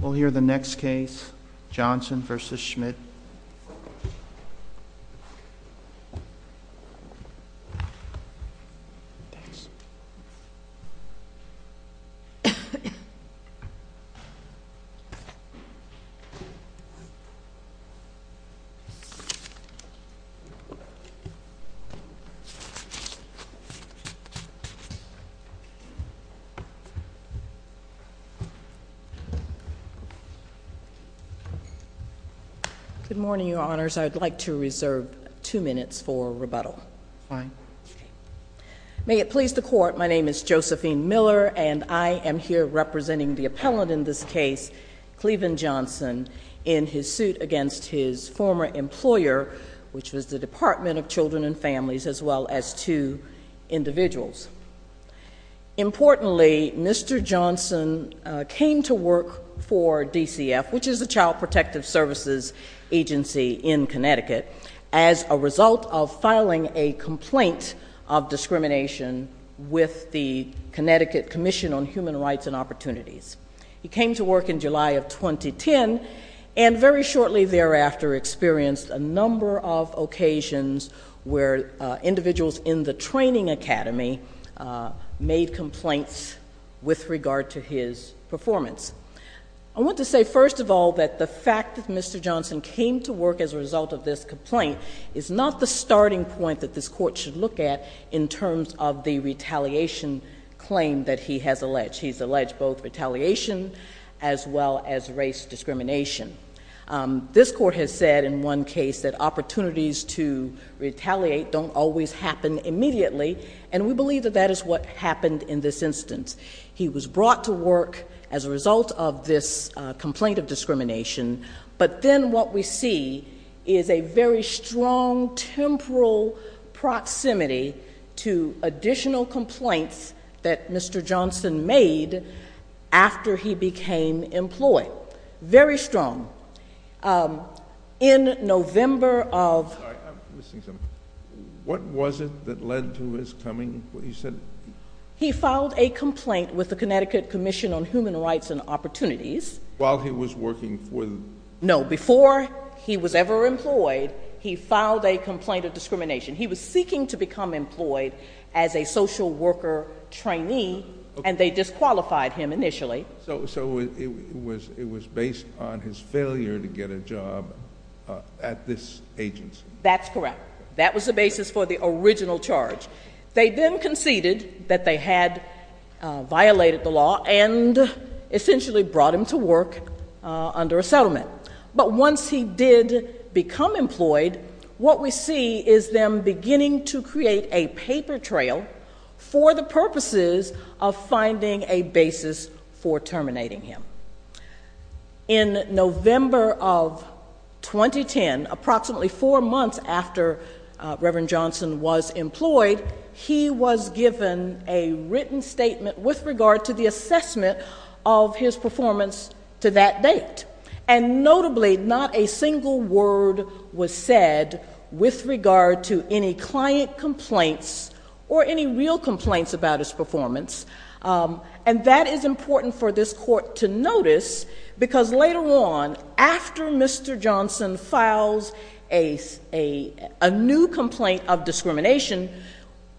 We'll hear the next case, Johnson v. Schmidt. Good morning, your honors. I'd like to reserve two minutes for rebuttal. May it please the court, my name is Josephine Miller, and I am here representing the appellant in this case, Cleveland Johnson, in his suit against his former employer, which was the Department of Children and Families, as well as two individuals. Importantly, Mr. Johnson came to work for DCF, which is the Child Protective Services Agency in Connecticut, as a result of filing a complaint of discrimination with the Connecticut Commission on Human Rights and Opportunities. He came to work in July of 2010, and very shortly thereafter experienced a number of occasions where individuals in the training academy made complaints with regard to his performance. I want to say first of all that the fact that Mr. Johnson came to work as a result of this complaint is not the starting point that this court should look at in terms of the retaliation claim that he has alleged. He's alleged both retaliation as well as race discrimination. This court has said in one case that opportunities to retaliate don't always happen immediately, and we believe that that is what happened in this instance. He was brought to work as a result of this complaint of discrimination, but then what we see is a very strong temporal proximity to additional complaints that Mr. Johnson made after he became employed. Very strong. In November of... Sorry, I'm missing something. What was it that led to his coming? You said... He filed a complaint with the Connecticut Commission on Human Rights and Opportunities... While he was working for the... No, before he was ever employed, he filed a complaint of discrimination. He was seeking to become employed as a social worker trainee, and they disqualified him initially. So it was based on his failure to get a job at this agency. That's correct. That was the basis for the original charge. They then conceded that they had violated the law and essentially brought him to work under a settlement. But once he did become employed, what we see is them beginning to create a paper trail for the purposes of finding a basis for terminating him. In November of 2010, approximately four months after Reverend Johnson was employed, he was given a written statement with regard to the assessment of his performance to that date. And notably, not a single word was said with regard to any client complaints or any real complaints about his performance. And that is important for this Court to notice, because later on, after Mr. Johnson files a new complaint of discrimination,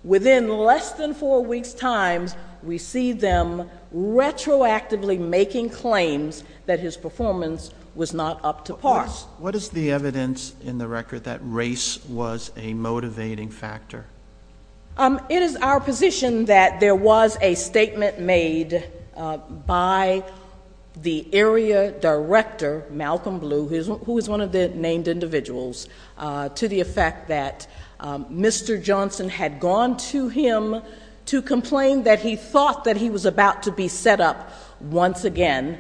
within less than four weeks' time, we see them retroactively making claims that his performance was not up to par. What is the evidence in the record that race was a motivating factor? It is our position that there was a statement made by the area director, Malcolm Blue, who was one of the named individuals, to the effect that Mr. Johnson had gone to him to complain that he thought that he was about to be set up once again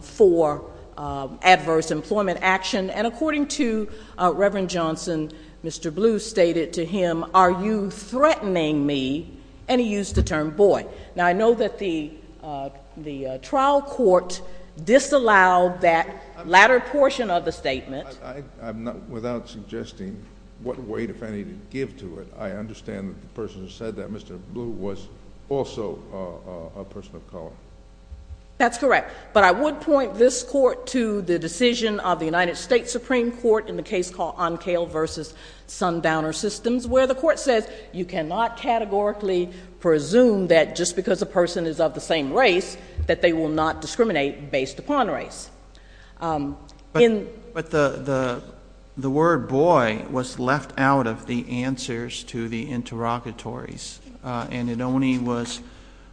for adverse employment action. And according to Reverend Johnson, Mr. Blue stated to him, are you threatening me? And he used the term, boy. Now, I know that the trial court disallowed that latter portion of the statement. Without suggesting what weight, if any, to give to it, I understand that the person who said that, Mr. Blue, was also a person of color. That's correct. But I would point this Court to the decision of the United States Supreme Court in the case called Oncale v. Sundowner Systems, where the Court says you cannot categorically presume that just because a person is of the same race, that they will not discriminate based upon race. But the word boy was left out of the answers to the interrogatories, and it only was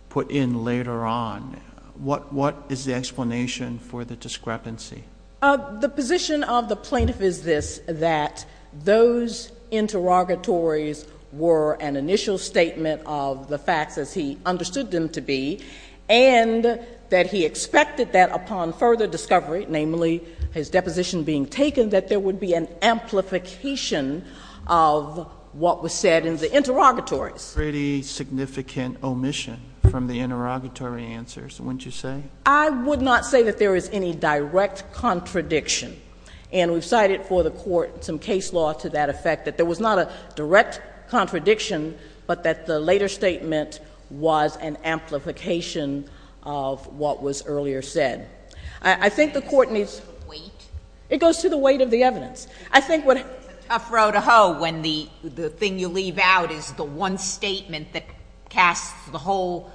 put in later on. What is the explanation for the discrepancy? The position of the plaintiff is this, that those interrogatories were an initial statement of the facts as he understood them to be, and that he expected that upon further discovery, namely his deposition being taken, that there would be an amplification of what was said in the interrogatories. That's a pretty significant omission from the interrogatory answers, wouldn't you say? I would not say that there is any direct contradiction. And we've cited for the Court some case law to that effect, that there was not a direct contradiction, but that the later statement was an amplification of what was earlier said. I think the Court needs... Does it go to the weight? It goes to the weight of the evidence. I think what... It's a statement that casts the whole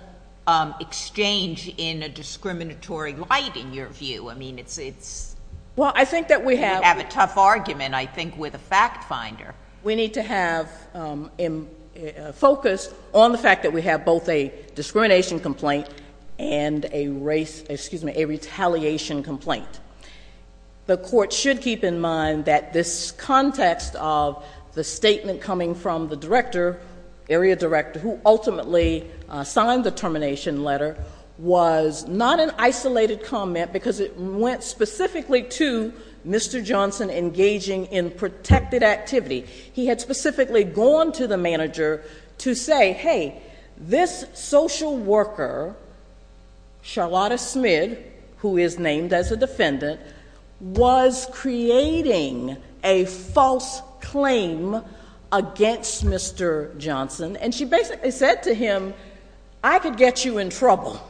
exchange in a discriminatory light, in your view. I mean, it's... Well, I think that we have... You have a tough argument, I think, with a fact finder. We need to have a focus on the fact that we have both a discrimination complaint and a retaliation complaint. The Court should keep in mind that this context of the statement coming from the Director, Area Director, who ultimately signed the termination letter was not an isolated comment because it went specifically to Mr. Johnson engaging in protected activity. He had specifically gone to the manager to say, hey, this social worker, Charlotta Smith, who is named as a defendant, was creating a false claim against Mr. Johnson. And she basically said to him, I could get you in trouble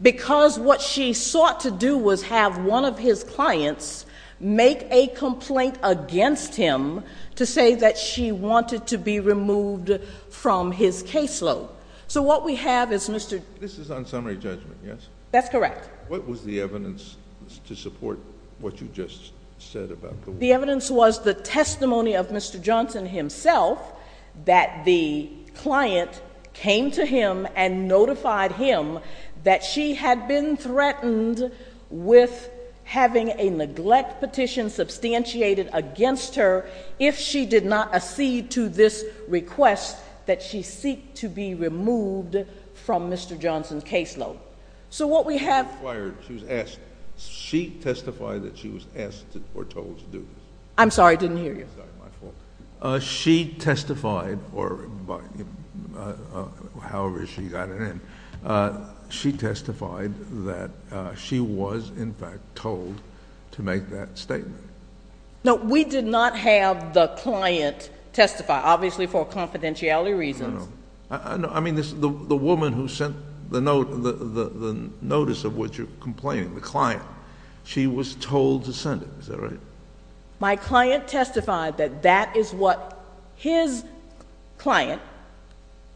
because what she sought to do was have one of his clients make a complaint against him to say that she wanted to be removed from his caseload. So what we have is Mr.... This is on summary judgment, yes? That's correct. What was the evidence to support what you just said about the... The evidence was the testimony of Mr. Johnson himself that the client came to him and notified him that she had been threatened with having a neglect petition substantiated against her if she did not accede to this request that she seek to be removed from Mr. Johnson's caseload. So what we have... She testified that she was asked or told to do this. I'm sorry, I didn't hear you. She testified, or however she got it in, she testified that she was, in fact, told to make that statement. No, we did not have the client testify, obviously for confidentiality reasons. I mean, the woman who sent the notice of what you're complaining, the client, she was told to send it, is that right? My client testified that that is what his client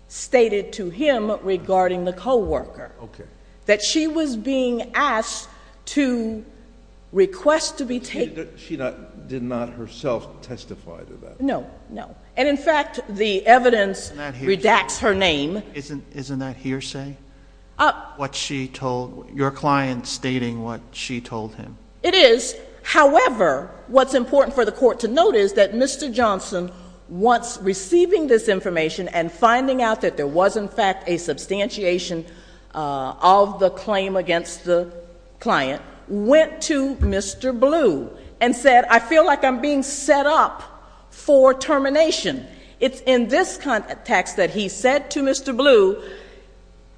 stated to him regarding the co-worker, that she was being asked to request to be taken... She did not herself testify to that? No, no. And in fact, the evidence redacts her name. Isn't that hearsay? What she told... your client stating what she told him. It is. However, what's important for the court to note is that Mr. Johnson, once receiving this information and finding out that there was, in fact, a substantiation of the claim against the client, went to Mr. Blue and said, I feel like I'm being set up for termination. It's in this text that he said to Mr. Blue,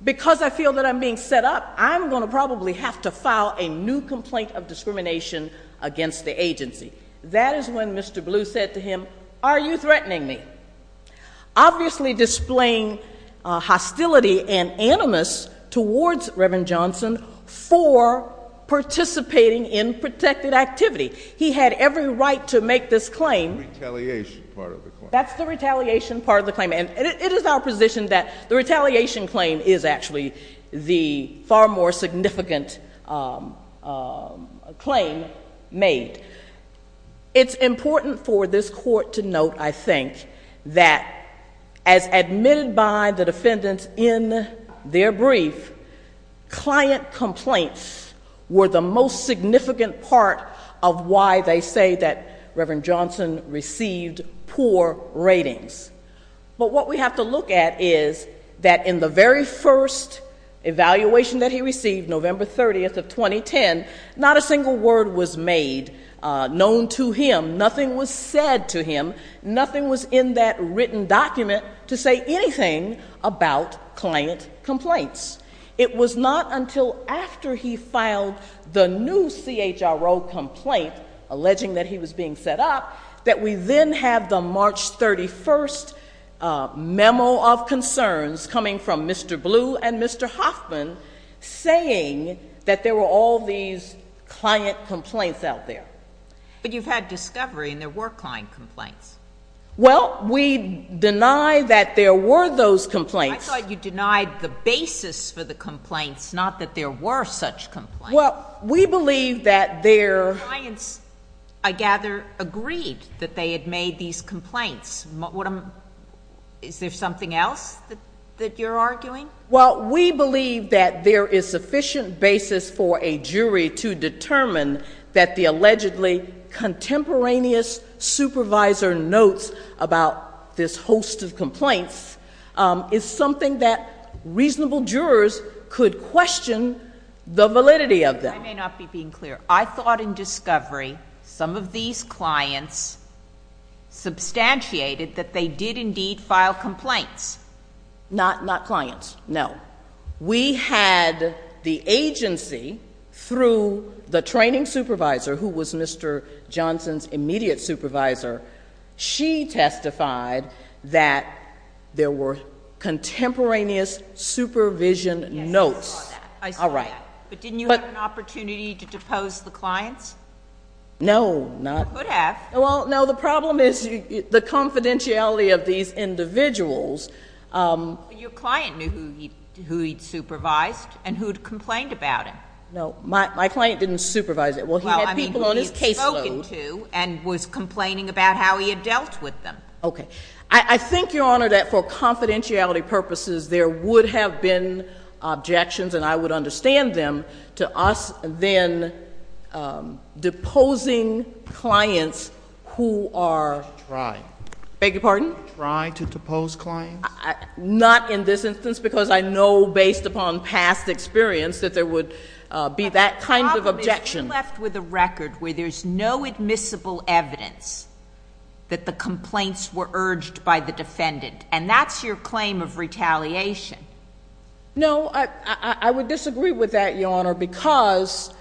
because I feel that I'm being set up, I'm going to probably have to file a new complaint of discrimination against the agency. That is when Mr. Blue said to him, are you threatening me? Obviously displaying hostility and animus towards Reverend Johnson for participating in protected activity. He had every right to make this claim. The retaliation part of the claim. That's the retaliation part of the claim. And it is our position that the retaliation claim is actually the far more significant claim made. It's important for this court to note, I think, that as admitted by the defendants in their brief, client complaints were the most significant part of why they say that Reverend Johnson received poor ratings. But what we have to look at is that in the very first evaluation that he received, November 30th of 2010, not a single word was made known to him. Nothing was said to him. Nothing was in that written document to say anything about client complaints. It was not until after he filed the new CHRO complaint alleging that he was being set up that we then have the March 31st memo of concerns coming from Mr. Blue and Mr. Hoffman saying that there were all these client complaints out there. But you've had discovery and there were client complaints. Well, we deny that there were those complaints. I thought you denied the basis for the complaints, not that there were such complaints. Well, we believe that there— Clients, I gather, agreed that they had made these complaints. Is there something else that you're arguing? Well, we believe that there is sufficient basis for a jury to determine that the allegedly contemporaneous supervisor notes about this host of complaints is something that reasonable jurors could question the validity of them. I may not be being clear. I thought in discovery some of these clients substantiated that they did indeed file complaints, Not clients, no. We had the agency, through the training supervisor, who was Mr. Johnson's immediate supervisor, she testified that there were contemporaneous supervision notes. Yes, I saw that. I saw that. But didn't you have an opportunity to depose the clients? No, not— You could have. Well, no, the problem is the confidentiality of these individuals. Your client knew who he'd supervised and who'd complained about him. No, my client didn't supervise it. Well, he had people on his caseload— Well, I mean, who he'd spoken to and was complaining about how he had dealt with them. Okay. I think, Your Honor, that for confidentiality purposes, there would have been objections, and I would understand them, to us then deposing clients who are— Try. Beg your pardon? Try to depose clients? Not in this instance, because I know, based upon past experience, that there would be that kind of objection. But the problem is you're left with a record where there's no admissible evidence that the complaints were urged by the defendant, and that's your claim of retaliation. No, I would disagree with that, Your Honor, because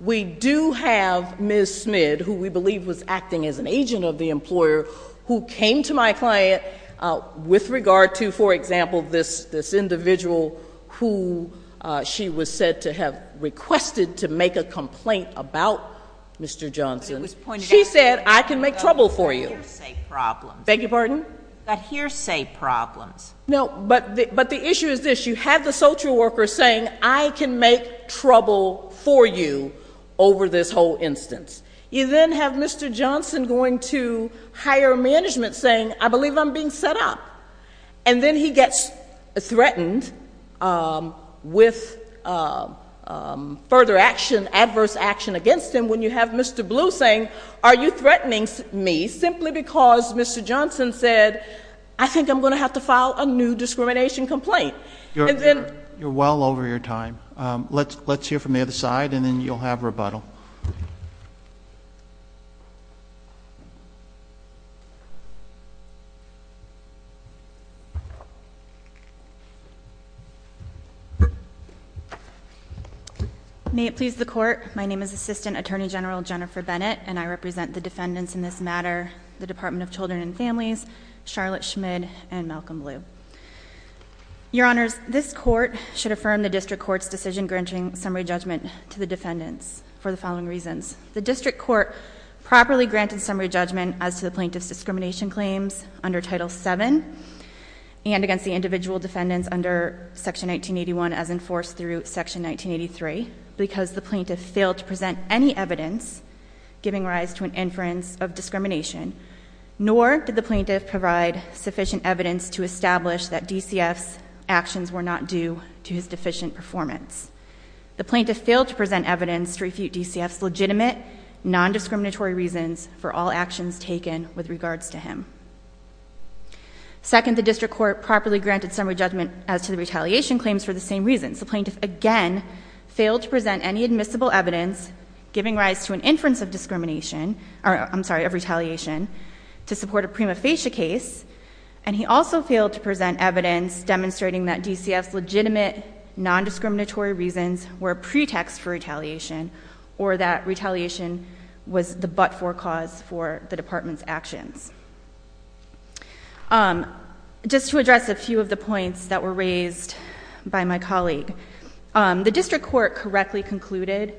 we do have Ms. Smid, who we believe was acting as an agent of the employer, who came to my client with regard to, for example, this individual who she was said to have requested to make a complaint about Mr. Johnson. But it was pointed out— She said, I can make trouble for you. —that he had got hearsay problems. Beg your pardon? He had got hearsay problems. No, but the issue is this. You have the social worker saying, I can make trouble for you over this whole instance. You then have Mr. Johnson going to higher management saying, I believe I'm being set up. And then he gets threatened with further action, adverse action against him when you have Mr. Blue saying, are you threatening me simply because Mr. Johnson said, I think I'm going to have to file a new discrimination complaint? You're well over your time. Let's hear from the other side, and then you'll have rebuttal. May it please the Court, my name is Assistant Attorney General Jennifer Bennett, and I represent the defendants in this matter, the Department of Children and Families, Charlotte Smid, and Malcolm Blue. Your Honors, this Court should affirm the District Court's decision granting summary judgment to the defendants for the following reasons. The District Court properly granted summary judgment as to the plaintiff's discrimination claims under Title VII and against the individual defendants under Section 1981 as enforced through Section 1983 because the plaintiff failed to present any evidence giving rise to an inference of discrimination. Nor did the plaintiff provide sufficient evidence to establish that DCF's actions were not due to his deficient performance. The plaintiff failed to present evidence to refute DCF's legitimate, non-discriminatory reasons for all actions taken with regards to him. Second, the District Court properly granted summary judgment as to the retaliation claims for the same reasons. The plaintiff, again, failed to present any admissible evidence giving rise to an inference of retaliation to support a prima facie case, and he also failed to present evidence demonstrating that DCF's legitimate, non-discriminatory reasons were a pretext for retaliation or that retaliation was the but-for cause for the Department's actions. Just to address a few of the points that were raised by my colleague, the District Court correctly concluded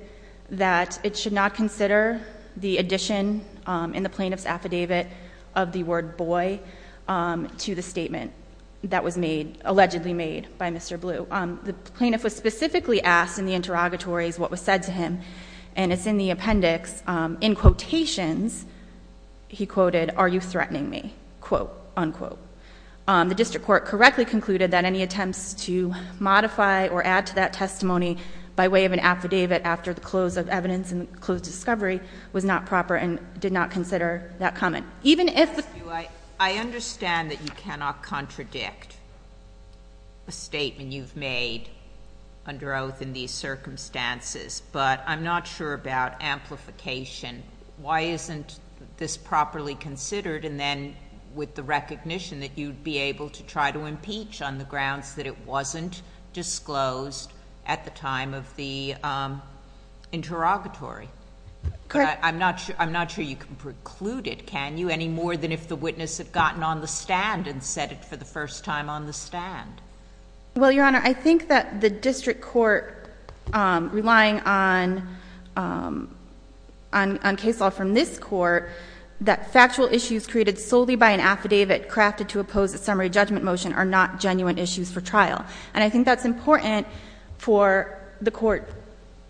that it should not consider the addition in the plaintiff's affidavit of the word boy to the statement that was made, allegedly made, by Mr. Blue. The plaintiff was specifically asked in the interrogatories what was said to him, and it's in the appendix. In quotations, he quoted, are you threatening me, quote, unquote. The District Court correctly concluded that any attempts to modify or add to that testimony by way of an affidavit after the close of evidence and the close discovery was not proper and did not consider that comment. Even if the... I understand that you cannot contradict a statement you've made under oath in these circumstances, but I'm not sure about amplification. Why isn't this properly considered, and then with the recognition that you'd be able to try to impeach on the grounds that it wasn't disclosed at the time of the interrogatory? I'm not sure you can preclude it, can you, any more than if the witness had gotten on the stand and said it for the first time on the stand? Well, Your Honor, I think that the District Court, relying on case law from this court, that factual issues created solely by an affidavit crafted to oppose a summary judgment motion are not genuine issues for trial. And I think that's important for the court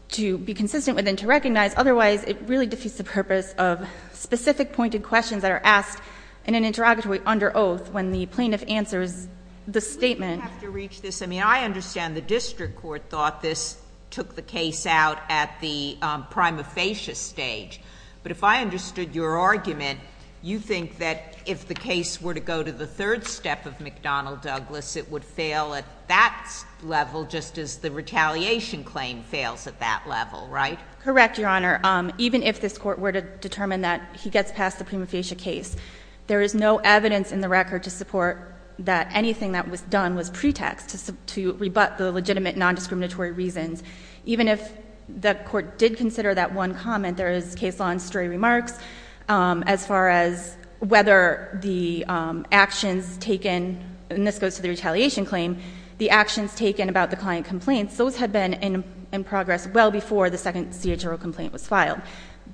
to be consistent with and to recognize. Otherwise, it really defeats the purpose of specific pointed questions that are asked in an interrogatory under oath when the plaintiff answers the statement. We have to reach this. I mean, I understand the District Court thought this took the case out at the prima facie stage. But if I understood your argument, you think that if the case were to go to the third step of McDonnell-Douglas, it would fail at that level just as the retaliation claim fails at that level, right? Correct, Your Honor. Even if this court were to determine that he gets past the prima facie case, there is no evidence in the record to support that anything that was done was pretext to rebut the legitimate nondiscriminatory reasons. Even if the court did consider that one comment, there is case law and stray remarks as far as whether the actions taken, and this goes to the retaliation claim, the actions taken about the client complaints, those had been in progress well before the second CHRO complaint was filed.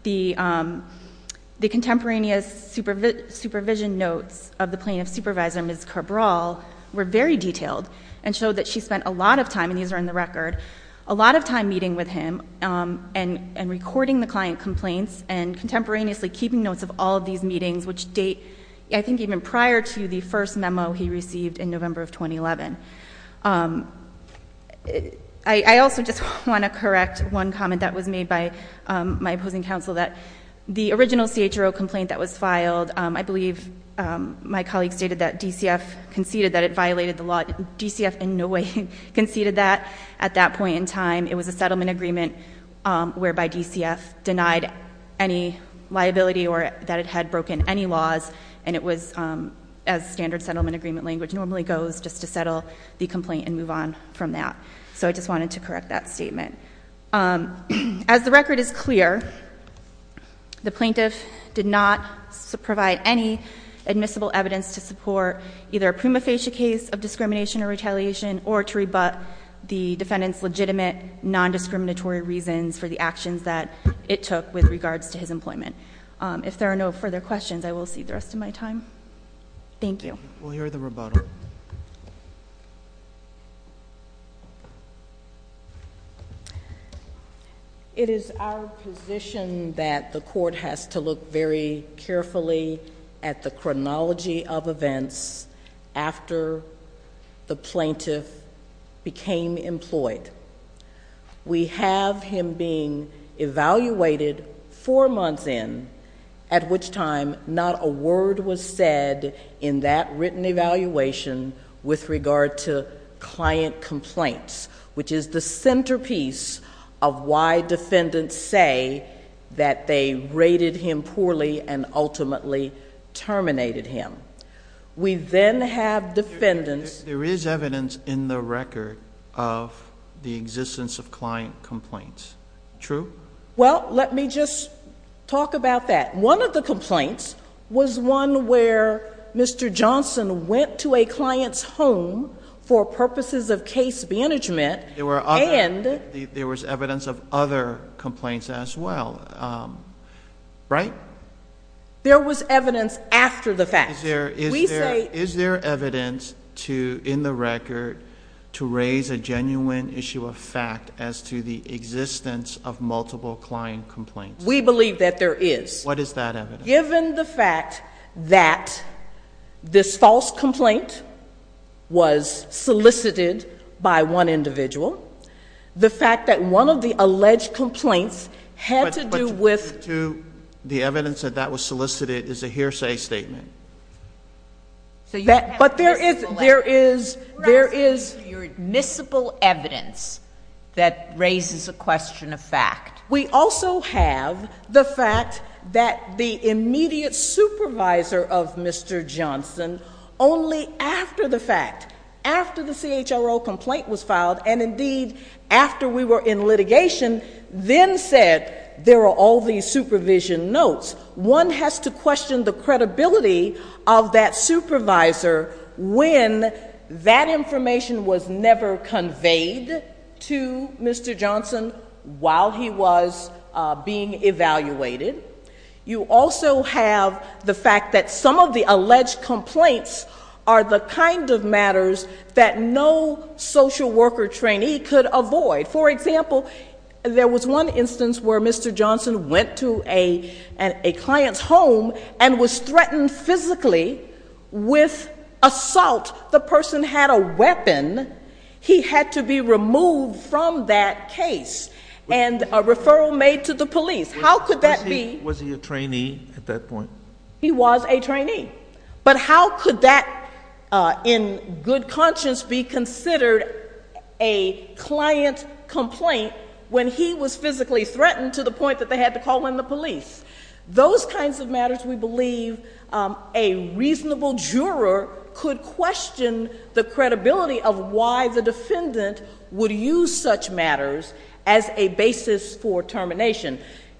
The contemporaneous supervision notes of the plaintiff's supervisor, Ms. Kerbrall, were very detailed and showed that she spent a lot of time, and these are in the record, a lot of time meeting with him and recording the client complaints and contemporaneously keeping notes of all of these meetings, which date, I think, even prior to the first memo he received in November of 2011. I also just want to correct one comment that was made by my opposing counsel, that the original CHRO complaint that was filed, I believe my colleague stated that DCF conceded that it violated the law, DCF in no way conceded that. At that point in time, it was a settlement agreement whereby DCF denied any liability or that it had broken any laws, and it was, as standard settlement agreement language normally goes, just to settle the complaint and move on from that. So I just wanted to correct that statement. As the record is clear, the plaintiff did not provide any admissible evidence to support either a prima facie case of discrimination or retaliation or to rebut the defendant's legitimate nondiscriminatory reasons for the actions that it took with regards to his employment. If there are no further questions, I will cede the rest of my time. Thank you. We'll hear the rebuttal. It is our position that the court has to look very carefully at the chronology of events after the plaintiff became employed. We have him being evaluated four months in, at which time not a word was said in that written evaluation with regard to client complaints, which is the centerpiece of why defendants say that they rated him poorly and ultimately terminated him. We then have defendants... There is evidence in the record of the existence of client complaints. True? Well, let me just talk about that. One of the complaints was one where Mr. Johnson went to a client's home for purposes of case management and... There was evidence of other complaints as well, right? There was evidence after the fact. Is there evidence in the record to raise a genuine issue of fact as to the existence of multiple client complaints? We believe that there is. What is that evidence? Given the fact that this false complaint was solicited by one individual, the fact that one of the alleged complaints had to do with... But to the evidence that that was solicited is a hearsay statement. But there is... You're asking for your admissible evidence that raises a question of fact. We also have the fact that the immediate supervisor of Mr. Johnson, only after the fact, after the CHRO complaint was filed, and indeed after we were in litigation, then said, there are all these supervision notes. One has to question the credibility of that supervisor when that information was never conveyed to Mr. Johnson while he was being evaluated. You also have the fact that some of the alleged complaints are the kind of matters that no social worker trainee could avoid. For example, there was one instance where Mr. Johnson went to a client's home and was threatened physically with assault. The person had a weapon. He had to be removed from that case. And a referral made to the police. How could that be... Was he a trainee at that point? He was a trainee. But how could that in good conscience be considered a client complaint when he was physically threatened to the point that they had to call in the police? Those kinds of matters, we believe, a reasonable juror could question the credibility of why the defendant would use such matters as a basis for termination,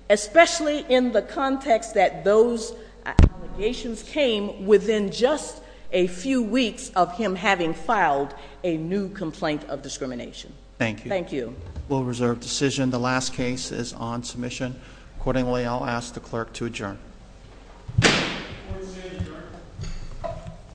especially in the context that those allegations came within just a few weeks of him having filed a new complaint of discrimination. Thank you. Thank you. Rule of reserve decision. The last case is on submission. Accordingly, I'll ask the clerk to adjourn.